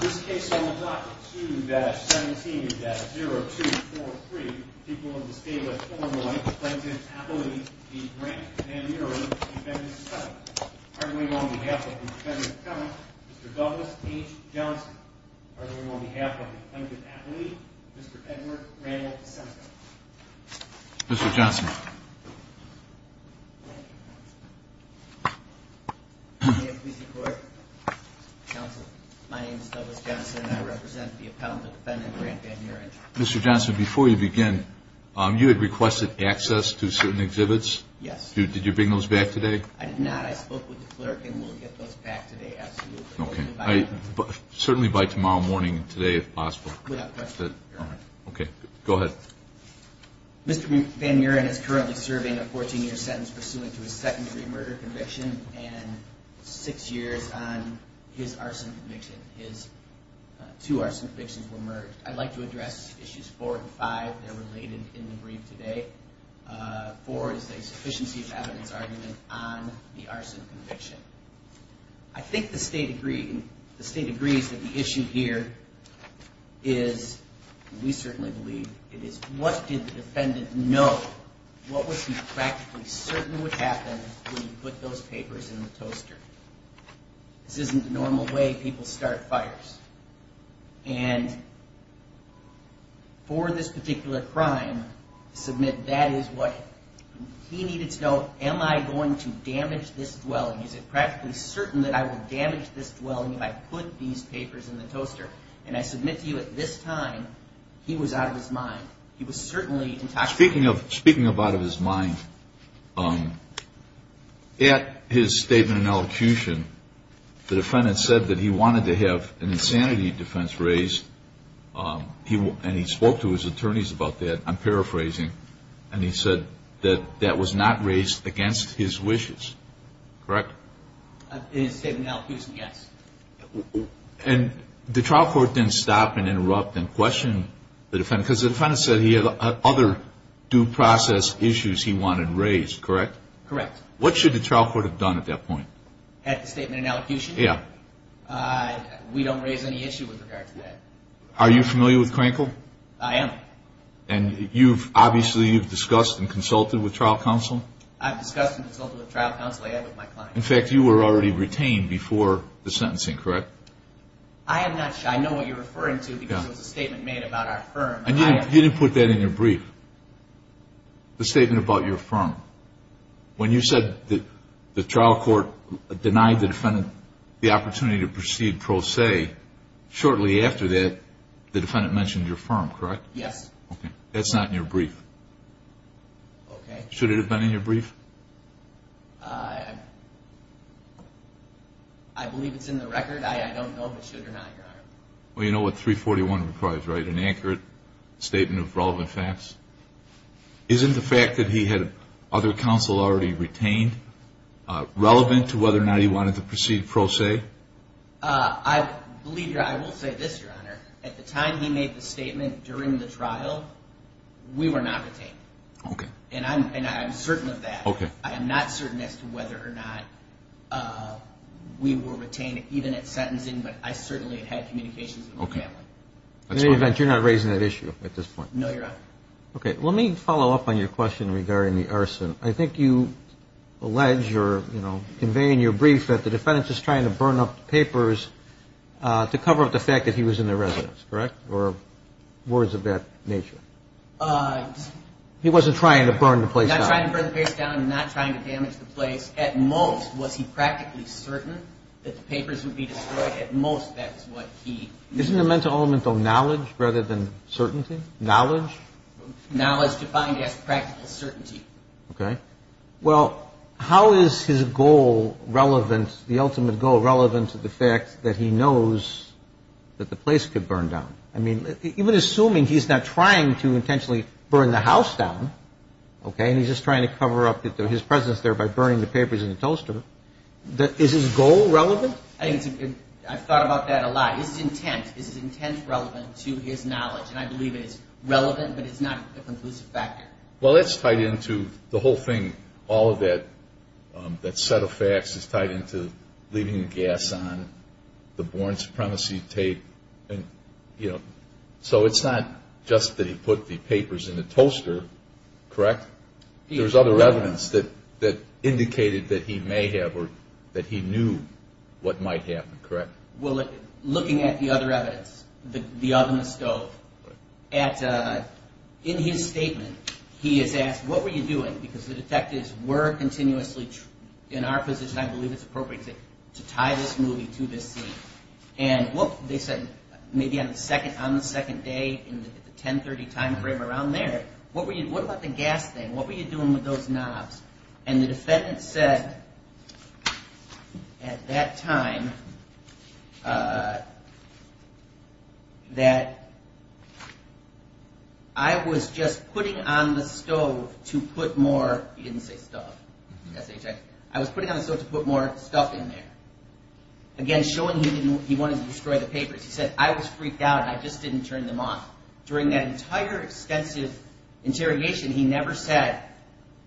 This case on Block 2-17-0243, people in the state of Illinois, Plaintiff's Appellee v. Van Muren, Defendant's Attorney. Arguing on behalf of the Defendant's Attorney, Mr. Douglas H. Johnson. Arguing on behalf of the Plaintiff's Appellee, Mr. Edward Randall Seneca. Mr. Johnson. Mr. Johnson, before you begin, you had requested access to certain exhibits. Yes. Did you bring those back today? I did not. I spoke with the clerk and we'll get those back today, absolutely. Certainly by tomorrow morning, today if possible. Without question, Your Honor. Okay, go ahead. Mr. Van Muren is currently serving a 14-year sentence pursuant to a second-degree murder conviction and six years on his arson conviction. His two arson convictions were merged. I'd like to address issues four and five. They're related in the brief today. Four is a sufficiency of evidence argument on the arson conviction. I think the State agrees that the issue here is, and we certainly believe it is, what did the Defendant know? What was he practically certain would happen when he put those papers in the toaster? This isn't the normal way people start fires. And for this particular crime, to submit that is what he needed to know. Am I going to damage this dwelling? Is it practically certain that I will damage this dwelling if I put these papers in the toaster? And I submit to you at this time, he was out of his mind. He was certainly intoxicated. Speaking of out of his mind, at his statement and elocution, the Defendant said that he wanted to have an insanity defense raised. And he spoke to his attorneys about that. I'm paraphrasing. And he said that that was not raised against his wishes, correct? In his statement and elocution, yes. And the trial court didn't stop and interrupt and question the Defendant, because the Defendant said he had other due process issues he wanted raised, correct? Correct. What should the trial court have done at that point? At the statement and elocution? Yeah. We don't raise any issue with regard to that. Are you familiar with Crankle? I am. And obviously you've discussed and consulted with trial counsel? I've discussed and consulted with trial counsel. I have with my client. In fact, you were already retained before the sentencing, correct? I am not sure. I know what you're referring to, because it was a statement made about our firm. You didn't put that in your brief, the statement about your firm. When you said that the trial court denied the Defendant the opportunity to proceed pro se, shortly after that, the Defendant mentioned your firm, correct? Yes. That's not in your brief. Okay. Should it have been in your brief? I believe it's in the record. I don't know if it should or not. Well, you know what 341 requires, right? An accurate statement of relevant facts. Isn't the fact that he had other counsel already retained relevant to whether or not he wanted to proceed pro se? I believe I will say this, Your Honor. At the time he made the statement during the trial, we were not retained. Okay. And I'm certain of that. Okay. I am not certain as to whether or not we were retained, even at sentencing, but I certainly had communications with my family. Okay. In any event, you're not raising that issue at this point? No, Your Honor. Okay. Let me follow up on your question regarding the arson. I think you allege or, you know, convey in your brief that the defendant is trying to burn up the papers to cover up the fact that he was in the residence, correct? Or words of that nature. He wasn't trying to burn the place down. Not trying to burn the place down and not trying to damage the place. At most, was he practically certain that the papers would be destroyed? At most, that's what he. Isn't there a mental element of knowledge rather than certainty? Knowledge? Knowledge defined as practical certainty. Okay. Well, how is his goal relevant, the ultimate goal relevant to the fact that he knows that the place could burn down? I mean, even assuming he's not trying to intentionally burn the house down, okay, and he's just trying to cover up his presence there by burning the papers and the toaster, is his goal relevant? I've thought about that a lot. Is his intent relevant to his knowledge? And I believe it is relevant, but it's not a conclusive factor. Well, that's tied into the whole thing. All of that set of facts is tied into leaving the gas on, the born supremacy tape, and, you know, so it's not just that he put the papers in the toaster, correct? There's other evidence that indicated that he may have or that he knew what might happen, correct? Well, looking at the other evidence, the oven, the stove, in his statement he has asked, what were you doing, because the detectives were continuously in our position, I believe it's appropriate to tie this movie to this scene, and they said maybe on the second day in the 1030 time frame around there, what about the gas thing? What were you doing with those knobs? And the defendant said at that time that I was just putting on the stove to put more, he didn't say stuff, S-H-I, I was putting on the stove to put more stuff in there. Again, showing he wanted to destroy the papers. He said, I was freaked out and I just didn't turn them off. During that entire extensive interrogation, he never said,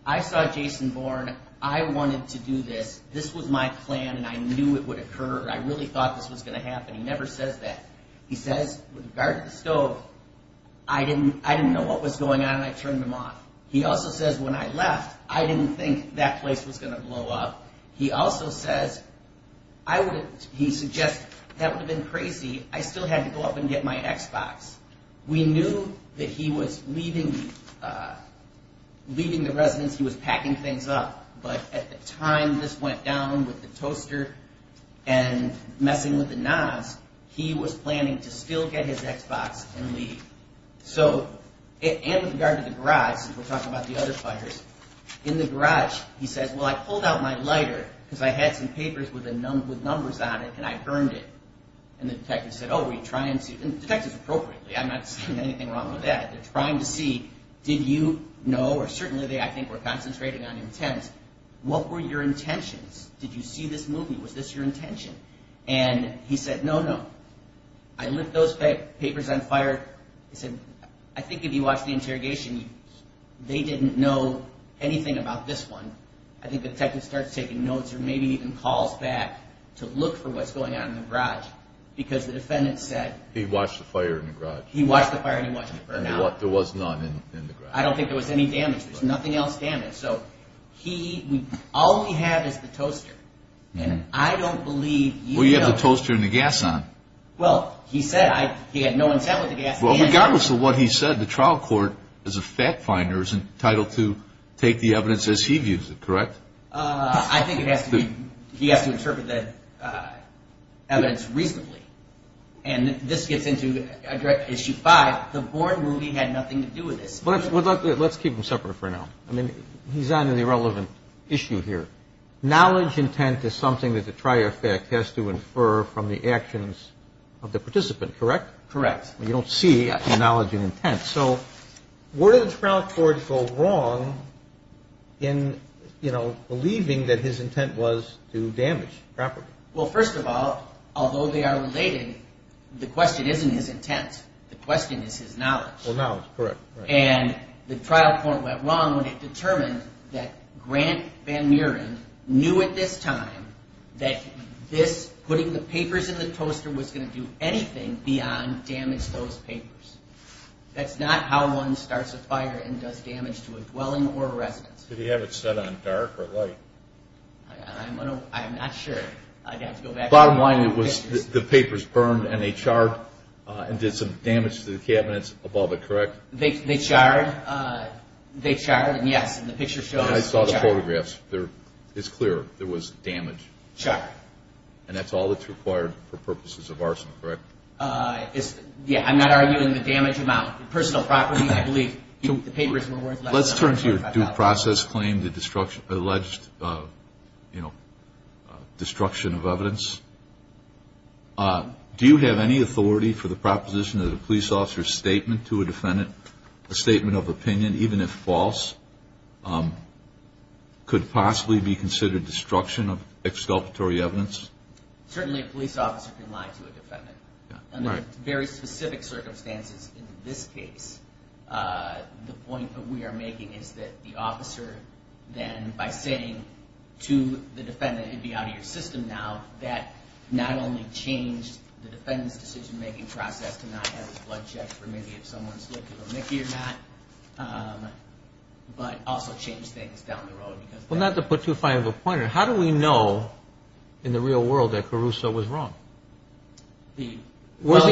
I saw Jason Bourne, I wanted to do this, this was my plan and I knew it would occur, I really thought this was going to happen. He never says that. He says, with regard to the stove, I didn't know what was going on and I turned them off. He also says when I left, I didn't think that place was going to blow up. He also says, he suggests, that would have been crazy, I still had to go up and get my Xbox. We knew that he was leaving the residence, he was packing things up, but at the time this went down with the toaster and messing with the knobs, he was planning to still get his Xbox and leave. So, and with regard to the garage, since we're talking about the other fighters, in the garage, he says, well, I pulled out my lighter, because I had some papers with numbers on it and I burned it. And the detectives said, oh, were you trying to, and the detectives appropriately, I'm not saying anything wrong with that, they're trying to see, did you know, or certainly they, I think, were concentrating on intent, what were your intentions? Did you see this movie, was this your intention? And he said, no, no. I lit those papers on fire, he said, I think if you watched the interrogation, they didn't know anything about this one. I think the detective starts taking notes or maybe even calls back to look for what's going on in the garage, because the defendant said. He watched the fire in the garage. He watched the fire and he wasn't burned out. There was none in the garage. I don't think there was any damage, there's nothing else damaged. So, he, all we have is the toaster, and I don't believe. Well, you have the toaster and the gas on. Well, he said, he had no intent with the gas. Well, regardless of what he said, the trial court, as a fact finder, is entitled to take the evidence as he views it, correct? I think it has to be, he has to interpret that evidence reasonably. And this gets into issue five, the Bourne movie had nothing to do with this. Let's keep them separate for now. I mean, he's on an irrelevant issue here. Knowledge intent is something that the trier of fact has to infer from the actions of the participant, correct? Correct. You don't see the knowledge and intent. So, where did the trial court go wrong in, you know, believing that his intent was to damage property? Well, first of all, although they are related, the question isn't his intent. The question is his knowledge. Well, knowledge, correct. And the trial court went wrong when it determined that Grant Van Muren knew at this time that this, putting the papers in the toaster, was going to do anything beyond damage those papers. That's not how one starts a fire and does damage to a dwelling or a residence. Did he have it set on dark or light? I'm not sure. I'd have to go back to the pictures. Bottom line, it was the papers burned and they charred and did some damage to the cabinets above it, correct? They charred, yes, and the pictures show us. I saw the photographs. It's clear there was damage. Charred. And that's all that's required for purposes of arson, correct? Yeah, I'm not arguing the damage amount. Personal property, I believe, the papers were worth less than $5,000. Let's turn to your due process claim, the alleged destruction of evidence. Do you have any authority for the proposition of the police officer's statement to a defendant, a statement of opinion, even if false? Could it possibly be considered destruction of exculpatory evidence? Certainly a police officer can lie to a defendant. Under very specific circumstances in this case, the point that we are making is that the officer then, by saying to the defendant, it would be out of your system now, that not only changed the defendant's decision-making process to not have his blood checked for maybe if someone slipped him a Mickey or not, but also changed things down the road. Well, not to put too fine of a pointer, how do we know in the real world that Caruso was wrong? Where's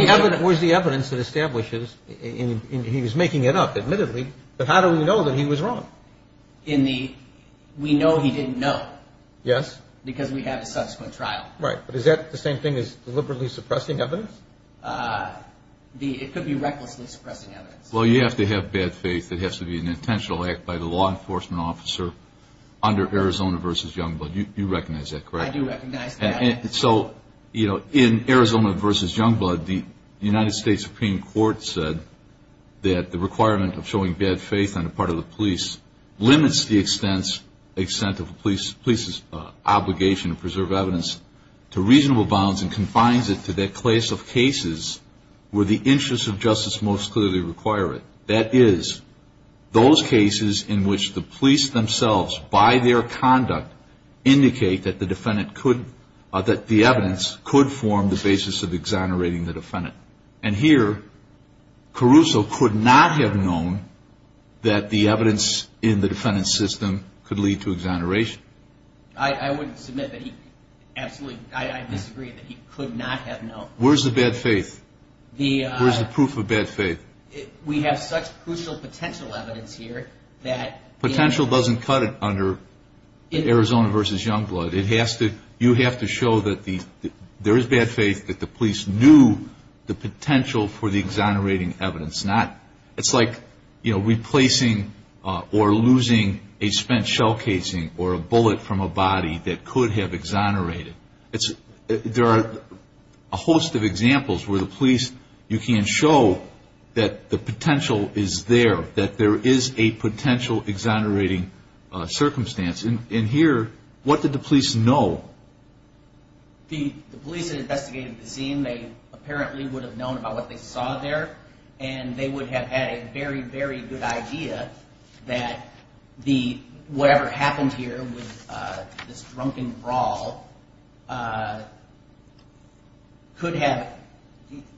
the evidence that establishes, and he was making it up, admittedly, but how do we know that he was wrong? We know he didn't know. Yes. Because we have a subsequent trial. Right, but is that the same thing as deliberately suppressing evidence? It could be recklessly suppressing evidence. Well, you have to have bad faith. It has to be an intentional act by the law enforcement officer under Arizona v. Youngblood. You recognize that, correct? I do recognize that. And so, you know, in Arizona v. Youngblood, the United States Supreme Court said that the requirement of showing bad faith on the part of the police limits the extent of a police's obligation to preserve evidence to reasonable bounds and confines it to that class of cases where the interests of justice most clearly require it. That is, those cases in which the police themselves, by their conduct, indicate that the evidence could form the basis of exonerating the defendant. And here, Caruso could not have known that the evidence in the defendant's system could lead to exoneration. I would submit that he absolutely, I disagree that he could not have known. Where's the bad faith? Where's the proof of bad faith? We have such crucial potential evidence here that... Potential doesn't cut it under Arizona v. Youngblood. It has to, you have to show that there is bad faith, that the police knew the potential for the exonerating evidence. It's like replacing or losing a spent shell casing or a bullet from a body that could have exonerated. There are a host of examples where the police, you can show that the potential is there, that there is a potential exonerating circumstance. And here, what did the police know? The police had investigated the scene. They apparently would have known about what they saw there, and they would have had a very, very good idea that whatever happened here with this drunken brawl could have...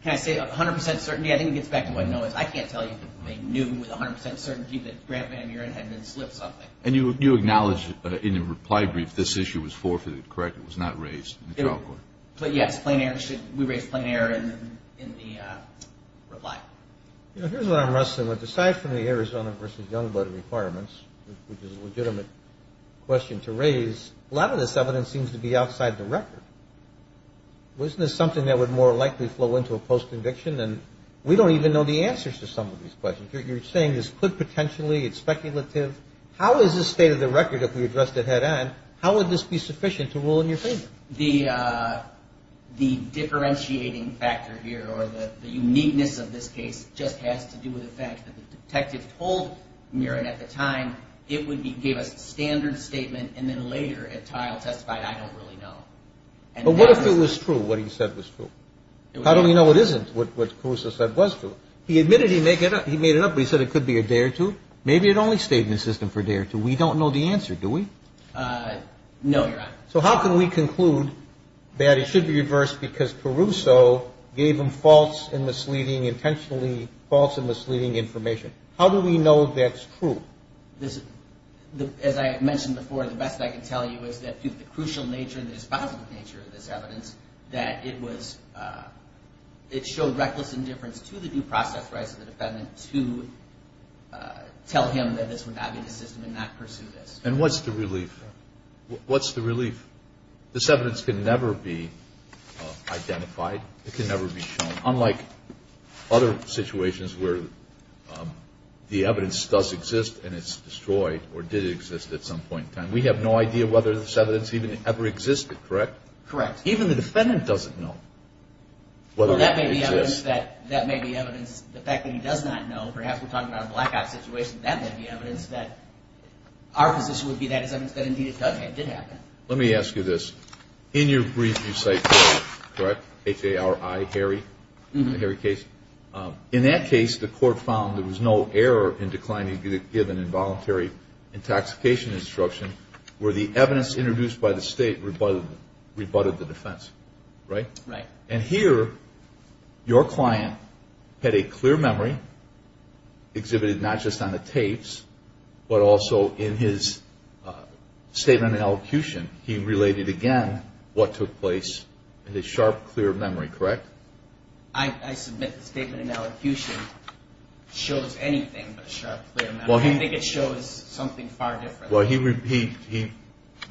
Can I say 100% certainty? I think it gets back to what Noah said. I can't tell you that they knew with 100% certainty that Grant Van Muren had been slipped something. And you acknowledge in the reply brief this issue was forfeited, correct? It was not raised in the trial court. But yes, we raised plain error in the reply. Here's where I'm wrestling with, aside from the Arizona v. Youngblood requirements, which is a legitimate question to raise, a lot of this evidence seems to be outside the record. Wasn't this something that would more likely flow into a post-conviction? And we don't even know the answers to some of these questions. You're saying this could potentially, it's speculative. How is this state of the record if we addressed it head-on? How would this be sufficient to rule in your favor? The differentiating factor here, or the uniqueness of this case, just has to do with the fact that the detective told Muren at the time it would give a standard statement, and then later at trial testified, I don't really know. But what if it was true, what he said was true? How do we know it isn't what Caruso said was true? He admitted he made it up, but he said it could be a day or two. Maybe it only stayed in the system for a day or two. We don't know the answer, do we? No, Your Honor. So how can we conclude that it should be reversed because Caruso gave him false and misleading, intentionally false and misleading information? How do we know that's true? As I mentioned before, the best I can tell you is that due to the crucial nature and the dispositive nature of this evidence, that it was, it showed reckless indifference to the due process rights of the defendant to tell him that this would not be the system and not pursue this. And what's the relief? What's the relief? This evidence can never be identified. It can never be shown, unlike other situations where the evidence does exist and it's destroyed or did exist at some point in time. We have no idea whether this evidence even ever existed, correct? Correct. Even the defendant doesn't know whether it exists. Well, that may be evidence. That may be evidence. The fact that he does not know, perhaps we're talking about a blackout situation, that may be evidence that our position would be that it's evidence that indeed it did happen. Let me ask you this. In your brief you cite Caruso, correct? H-A-R-I, Harry, the Harry case. In that case, the court found there was no error in declining to give an involuntary intoxication instruction where the evidence introduced by the state rebutted the defense, right? Right. And here your client had a clear memory exhibited not just on the tapes but also in his statement in elocution. He related again what took place in his sharp, clear memory, correct? I submit the statement in elocution shows anything but a sharp, clear memory. I think it shows something far different. Correct. Well, he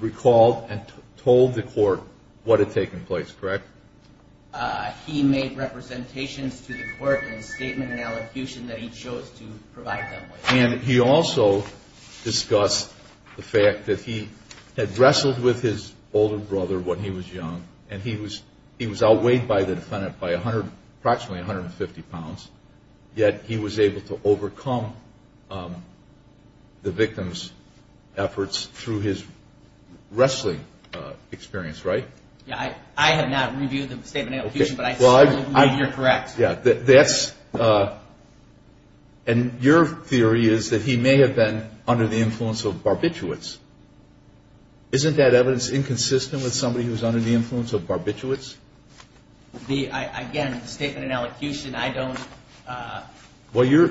recalled and told the court what had taken place, correct? He made representations to the court in a statement in elocution that he chose to provide them with. And he also discussed the fact that he had wrestled with his older brother when he was young and he was outweighed by the defendant by approximately 150 pounds, yet he was able to overcome the victim's efforts through his wrestling experience, right? Yeah. I have not reviewed the statement in elocution, but I certainly believe you're correct. Yeah. And your theory is that he may have been under the influence of barbiturates. Isn't that evidence inconsistent with somebody who's under the influence of barbiturates? Again, the statement in elocution, I don't. Well, you're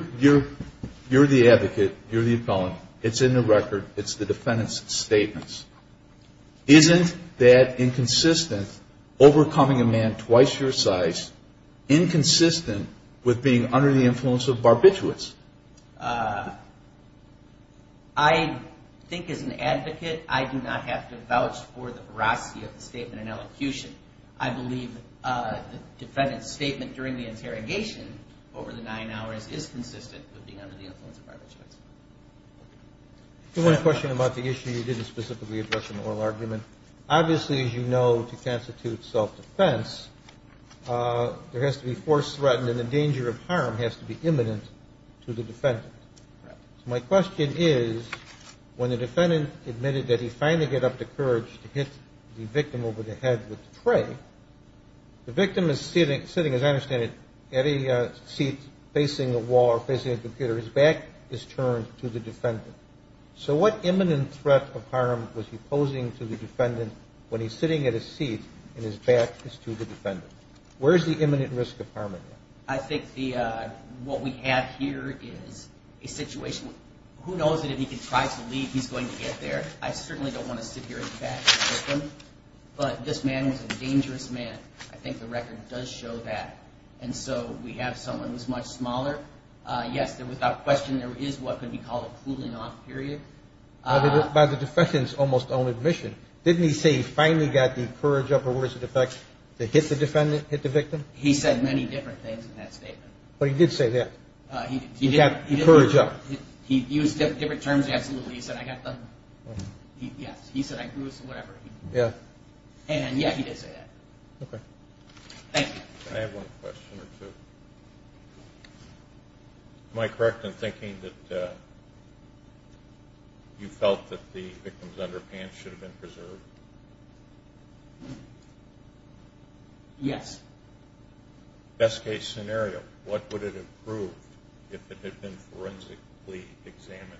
the advocate. You're the appellant. It's in the record. It's the defendant's statements. Isn't that inconsistent, overcoming a man twice your size, inconsistent with being under the influence of barbiturates? I think as an advocate, I do not have to vouch for the veracity of the statement in elocution. I believe the defendant's statement during the interrogation over the nine hours is consistent with being under the influence of barbiturates. I have one question about the issue you didn't specifically address in the oral argument. Obviously, as you know, to constitute self-defense, there has to be force threatened, and the danger of harm has to be imminent to the defendant. Correct. My question is when the defendant admitted that he finally got up the courage to hit the victim over the head with the tray, the victim is sitting, as I understand it, at a seat facing a wall or facing a computer. His back is turned to the defendant. So what imminent threat of harm was he posing to the defendant when he's sitting at a seat and his back is to the defendant? Where is the imminent risk of harm? I think what we have here is a situation. Who knows if he can try to leave, he's going to get there. I certainly don't want to sit here and bash the victim, but this man was a dangerous man. I think the record does show that. And so we have someone who's much smaller. Yes, without question, there is what could be called a cooling off period. By the defendant's almost own admission, didn't he say he finally got the courage up over his head to hit the defendant, hit the victim? He said many different things in that statement. But he did say that. He did. He got the courage up. He used different terms, absolutely. He said, I got the, yes, he said I grew his whatever. Yeah. And, yeah, he did say that. Okay. Thank you. I have one question or two. Am I correct in thinking that you felt that the victim's underpants should have been preserved? Yes. Best case scenario, what would it have proved if it had been forensically examined?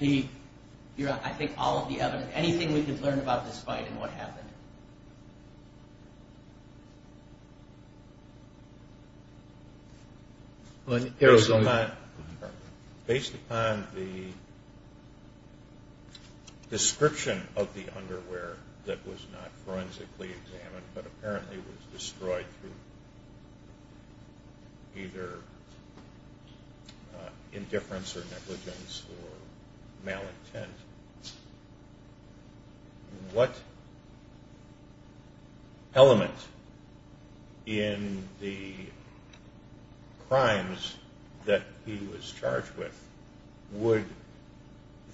I think all of the evidence, anything we could learn about this fight and what happened. Based upon the description of the underwear that was not forensically examined, but apparently was destroyed through either indifference or negligence or malintent, what element in the crimes that he was charged with would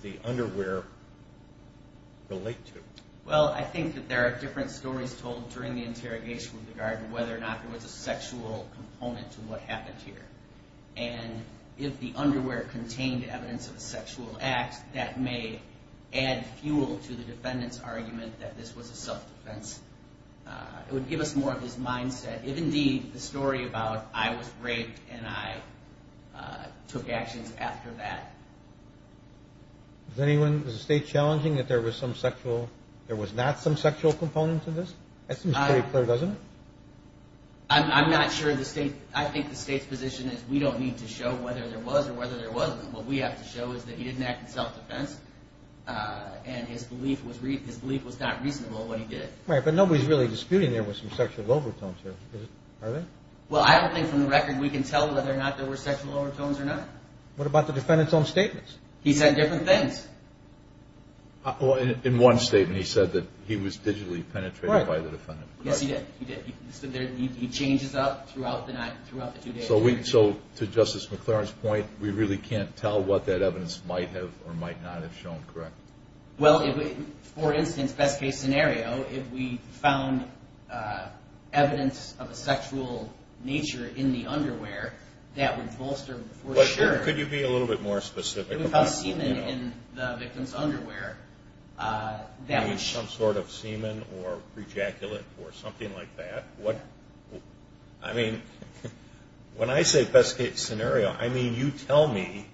the underwear relate to? Well, I think that there are different stories told during the interrogation with regard to whether or not there was a sexual component to what happened here. And if the underwear contained evidence of a sexual act, that may add fuel to the defendant's argument that this was a self-defense. It would give us more of his mindset, if indeed the story about I was raped and I took actions after that. Is anyone, is the State challenging that there was some sexual, there was not some sexual component to this? That seems pretty clear, doesn't it? I'm not sure the State, I think the State's position is we don't need to show whether there was or whether there wasn't. What we have to show is that he didn't act in self-defense and his belief was not reasonable in what he did. Right, but nobody's really disputing there was some sexual overtones here, are they? Well, I don't think from the record we can tell whether or not there were sexual overtones or not. What about the defendant's own statements? He said different things. In one statement he said that he was digitally penetrated by the defendant. Yes, he did. He changes up throughout the two days. So to Justice McLaren's point, we really can't tell what that evidence might have or might not have shown, correct? Well, for instance, best case scenario, if we found evidence of a sexual nature in the underwear, that would bolster for sure. Could you be a little bit more specific? If we found semen in the victim's underwear, that would show. Some sort of semen or prejaculate or something like that. I mean, when I say best case scenario, I mean you tell me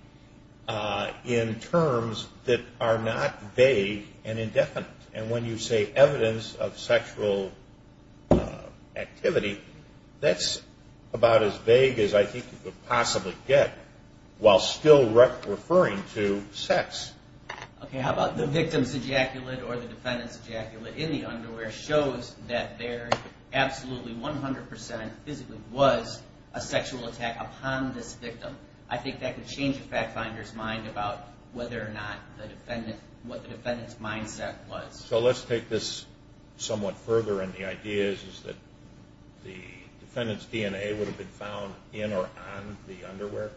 in terms that are not vague and indefinite. And when you say evidence of sexual activity, that's about as vague as I think you could possibly get while still referring to sex. Okay, how about the victim's ejaculate or the defendant's ejaculate in the underwear shows that there absolutely 100% physically was a sexual attack upon this victim. I think that could change a fact finder's mind about whether or not what the defendant's mindset was. So let's take this somewhat further, and the idea is that the defendant's DNA would have been found in or on the underwear?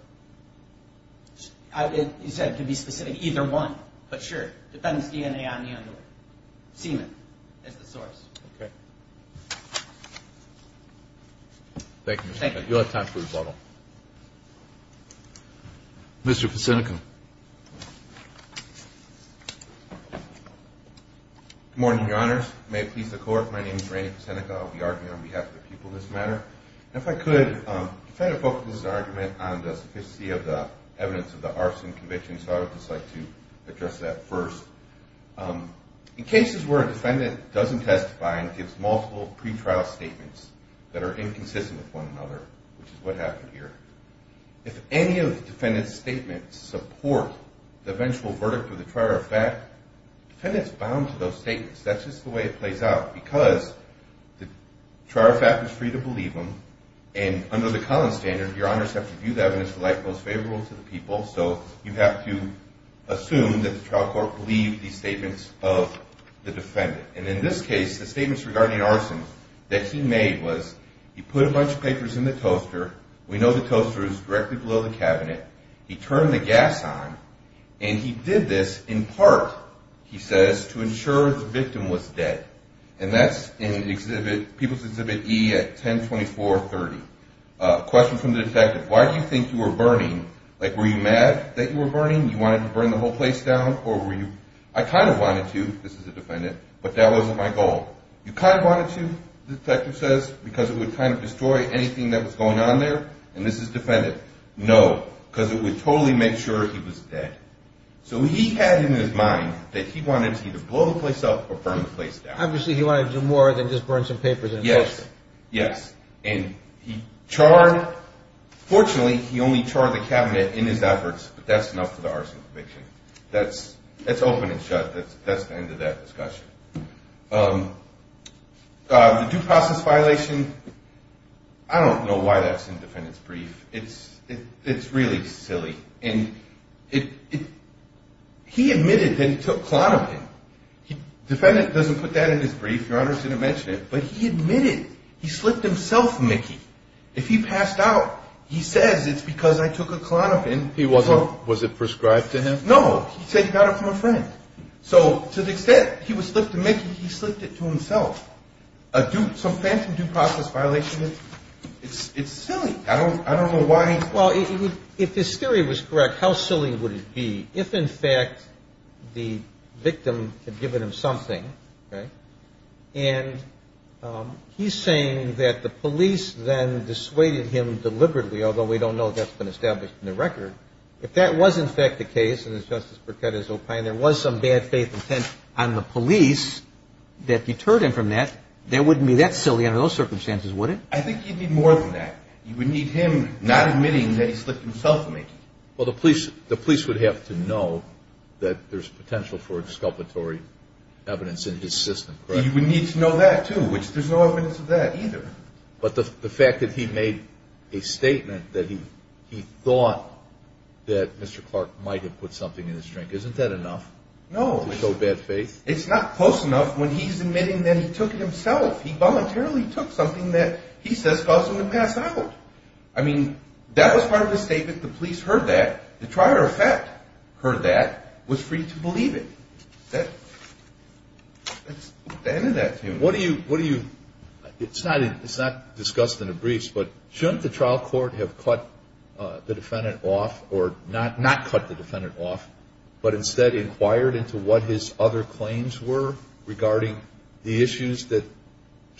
You said to be specific, either one. But sure, the defendant's DNA on the underwear. Semen is the source. Okay. Thank you. Thank you. You'll have time for rebuttal. Mr. Pacinica. Good morning, Your Honors. May it please the Court, my name is Randy Pacinica. I'll be arguing on behalf of the people in this matter. If I could, the defendant focuses his argument on the sophisticacy of the evidence of the arson conviction, so I would just like to address that first. In cases where a defendant doesn't testify and gives multiple pretrial statements that are inconsistent with one another, which is what happened here, if any of the defendant's statements support the eventual verdict of the trier of fact, the defendant's bound to those statements. That's just the way it plays out, because the trier of fact is free to believe them, and under the Collins standard, Your Honors have to view the evidence in the light most favorable to the people, so you have to assume that the trial court believed these statements of the defendant. And in this case, the statements regarding arson that he made was, he put a bunch of papers in the toaster, we know the toaster is directly below the cabinet, he turned the gas on, and he did this in part, he says, to ensure the victim was dead. And that's in People's Exhibit E at 102430. Question from the detective, why do you think you were burning? Like, were you mad that you were burning? You wanted to burn the whole place down? I kind of wanted to, this is the defendant, but that wasn't my goal. You kind of wanted to, the detective says, because it would kind of destroy anything that was going on there? And this is the defendant. No, because it would totally make sure he was dead. So he had in his mind that he wanted to either blow the place up or burn the place down. Obviously he wanted to do more than just burn some papers in the toaster. Yes, yes. And he charred, fortunately, he only charred the cabinet in his efforts, but that's enough for the arson conviction. That's open and shut. That's the end of that discussion. The due process violation, I don't know why that's in the defendant's brief. It's really silly. And he admitted that he took Klonopin. The defendant doesn't put that in his brief. Your Honor didn't mention it, but he admitted he slipped himself Mickey. If he passed out, he says it's because I took a Klonopin. Was it prescribed to him? No, he said he got it from a friend. So to the extent he was slipped a Mickey, he slipped it to himself. Some phantom due process violation, it's silly. I don't know why. Well, if his theory was correct, how silly would it be if, in fact, the victim had given him something, right? And he's saying that the police then dissuaded him deliberately, although we don't know if that's been established in the record. If that was, in fact, the case, and as Justice Berkut has opined, there was some bad faith intent on the police that deterred him from that, that wouldn't be that silly under those circumstances, would it? I think you'd need more than that. You would need him not admitting that he slipped himself a Mickey. Well, the police would have to know that there's potential for exculpatory evidence in his system, correct? You would need to know that, too, which there's no evidence of that either. But the fact that he made a statement that he thought that Mr. Clark might have put something in his drink, isn't that enough to show bad faith? No, it's not close enough when he's admitting that he took it himself. He voluntarily took something that he says caused him to pass out. I mean, that was part of the statement. The police heard that. The trial court heard that, was free to believe it. That's the end of that. What do you – it's not discussed in the briefs, but shouldn't the trial court have cut the defendant off or not cut the defendant off, but instead inquired into what his other claims were regarding the issues that the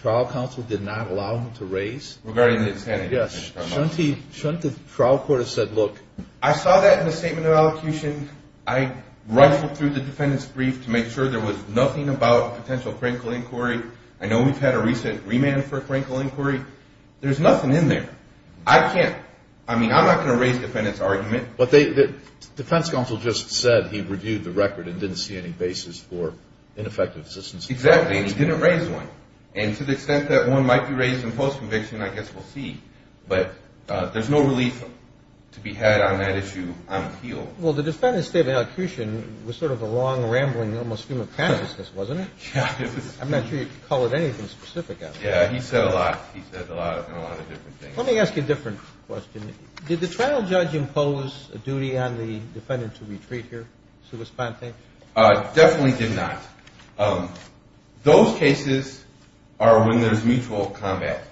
trial counsel did not allow him to raise? Regarding the defendant's claim. Yes. Shouldn't the trial court have said, look, I saw that in the statement of elocution. I ruffled through the defendant's brief to make sure there was nothing about potential critical inquiry. I know we've had a recent remand for critical inquiry. There's nothing in there. I can't – I mean, I'm not going to raise the defendant's argument. But the defense counsel just said he reviewed the record and didn't see any basis for ineffective assistance. Exactly. And he didn't raise one. And to the extent that one might be raised in post-conviction, I guess we'll see. But there's no relief to be had on that issue on appeal. Well, the defendant's statement of elocution was sort of a long, rambling, almost human cannabis, wasn't it? Yeah. I'm not sure you could call it anything specific. Yeah, he said a lot. He said a lot of different things. Let me ask you a different question. Did the trial judge impose a duty on the defendant to retreat here, sua sponte? Definitely did not. Those cases are when there's mutual combat.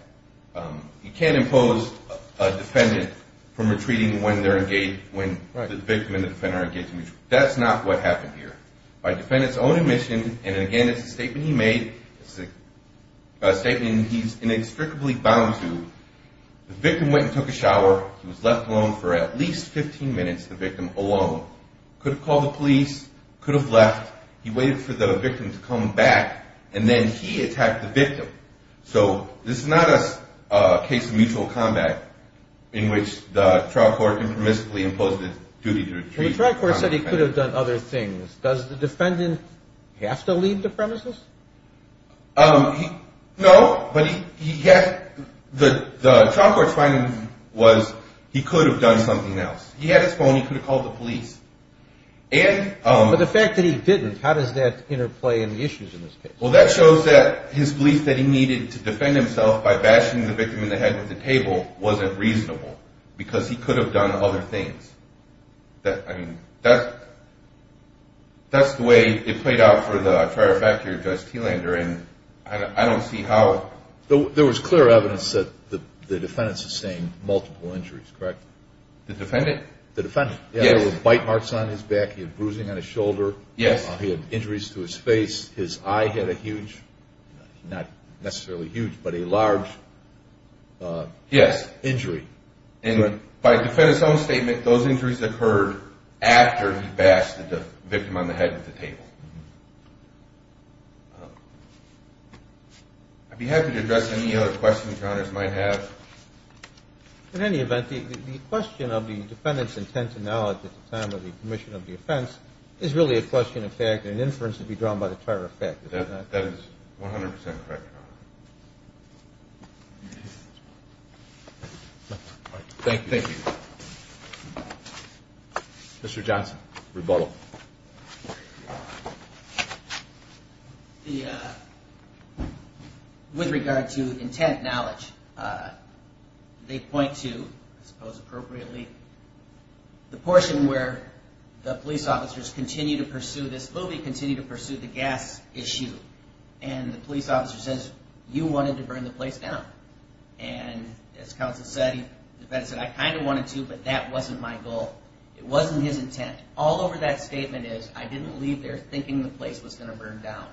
You can't impose a defendant from retreating when they're engaged, when the victim and the defendant are engaged in mutual combat. That's not what happened here. By defendant's own admission, and, again, it's a statement he made, it's a statement he's inextricably bound to, the victim went and took a shower. He was left alone for at least 15 minutes, the victim, alone. Could have called the police, could have left. He waited for the victim to come back, and then he attacked the victim. So this is not a case of mutual combat in which the trial court impermissibly imposed a duty to retreat. The trial court said he could have done other things. Does the defendant have to leave the premises? No, but the trial court's finding was he could have done something else. He had his phone. He could have called the police. But the fact that he didn't, how does that interplay in the issues in this case? Well, that shows that his belief that he needed to defend himself by bashing the victim in the head with a table wasn't reasonable because he could have done other things. I mean, that's the way it played out for the trial factor, Judge Thelander, and I don't see how. There was clear evidence that the defendant sustained multiple injuries, correct? The defendant? The defendant. Yes. There were bite marks on his back. He had bruising on his shoulder. Yes. He had injuries to his face. His eye had a huge, not necessarily huge, but a large injury. And by a defendant's own statement, those injuries occurred after he bashed the victim on the head with a table. I'd be happy to address any other questions you might have. In any event, the question of the defendant's intent and knowledge at the time of the commission of the offense is really a question of fact and an inference to be drawn by the terror of fact. That is 100% correct, Your Honor. Thank you. Thank you. Mr. Johnson, rebuttal. With regard to intent and knowledge, they point to, I suppose appropriately, the portion where the police officers continue to pursue this movie, continue to pursue the gas issue, and the police officer says, you wanted to burn the place down. And as counsel said, the defendant said, I kind of wanted to, but that wasn't my goal. It wasn't his intent. All over that statement is, I didn't leave there thinking the place was going to burn down.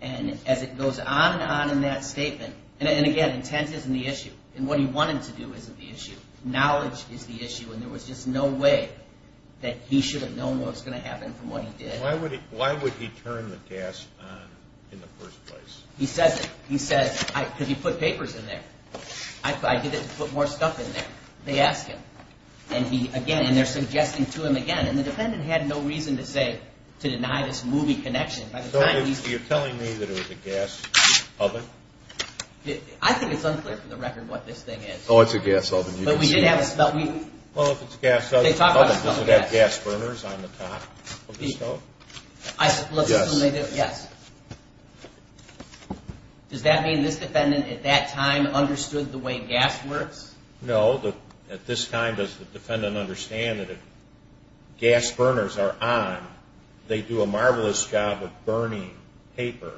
And as it goes on and on in that statement, and again, intent isn't the issue, and what he wanted to do isn't the issue. Knowledge is the issue, and there was just no way that he should have known what was going to happen from what he did. Why would he turn the gas on in the first place? He says it. He says, because he put papers in there. I did it to put more stuff in there. They ask him. And they're suggesting to him again, and the defendant had no reason to deny this movie connection. So you're telling me that it was a gas oven? I think it's unclear for the record what this thing is. Oh, it's a gas oven. But we did have a smell. Well, if it's a gas oven, does it have gas burners on the top of the stove? Yes. Does that mean this defendant at that time understood the way gas works? No. Well, at this time, does the defendant understand that if gas burners are on, they do a marvelous job of burning paper,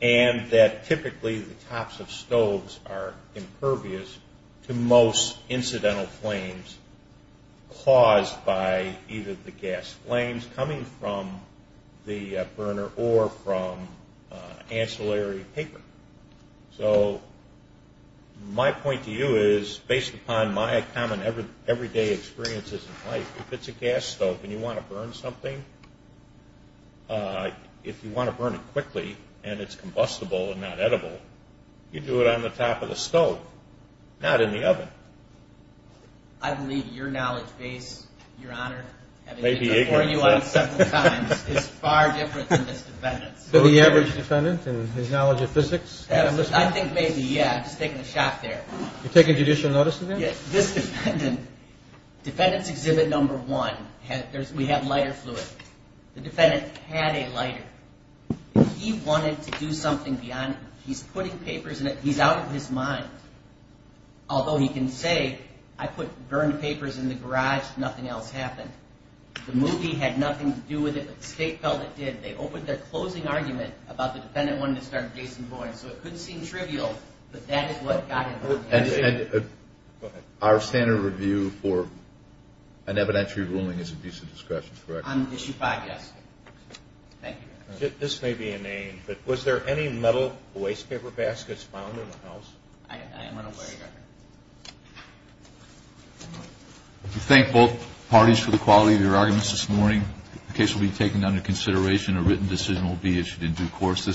and that typically the tops of stoves are impervious to most incidental flames caused by either the gas flames coming from the burner or from ancillary paper. So my point to you is, based upon my common everyday experiences in life, if it's a gas stove and you want to burn something, if you want to burn it quickly and it's combustible and not edible, you do it on the top of the stove, not in the oven. I believe your knowledge base, Your Honor, having been before you on several times, is far different than this defendant's. So the average defendant in his knowledge of physics? I think maybe, yeah. I'm just taking a shot there. You're taking judicial notice of him? Yes. This defendant, defendant's exhibit number one, we have lighter fluid. The defendant had a lighter. He wanted to do something beyond it. He's putting papers in it. He's out of his mind, although he can say, I put burned papers in the garage, nothing else happened. The movie had nothing to do with it, but the state felt it did. They opened their closing argument about the defendant wanting to start a case in Boyne. So it could seem trivial, but that is what got it. Go ahead. Our standard review for an evidentiary ruling is a piece of discretion, On issue five, yes. Thank you, Your Honor. This may be inane, but was there any metal waste paper baskets found in the house? I am unaware, Your Honor. Thank both parties for the quality of your arguments this morning. The case will be taken under consideration. A written decision will be issued in due course.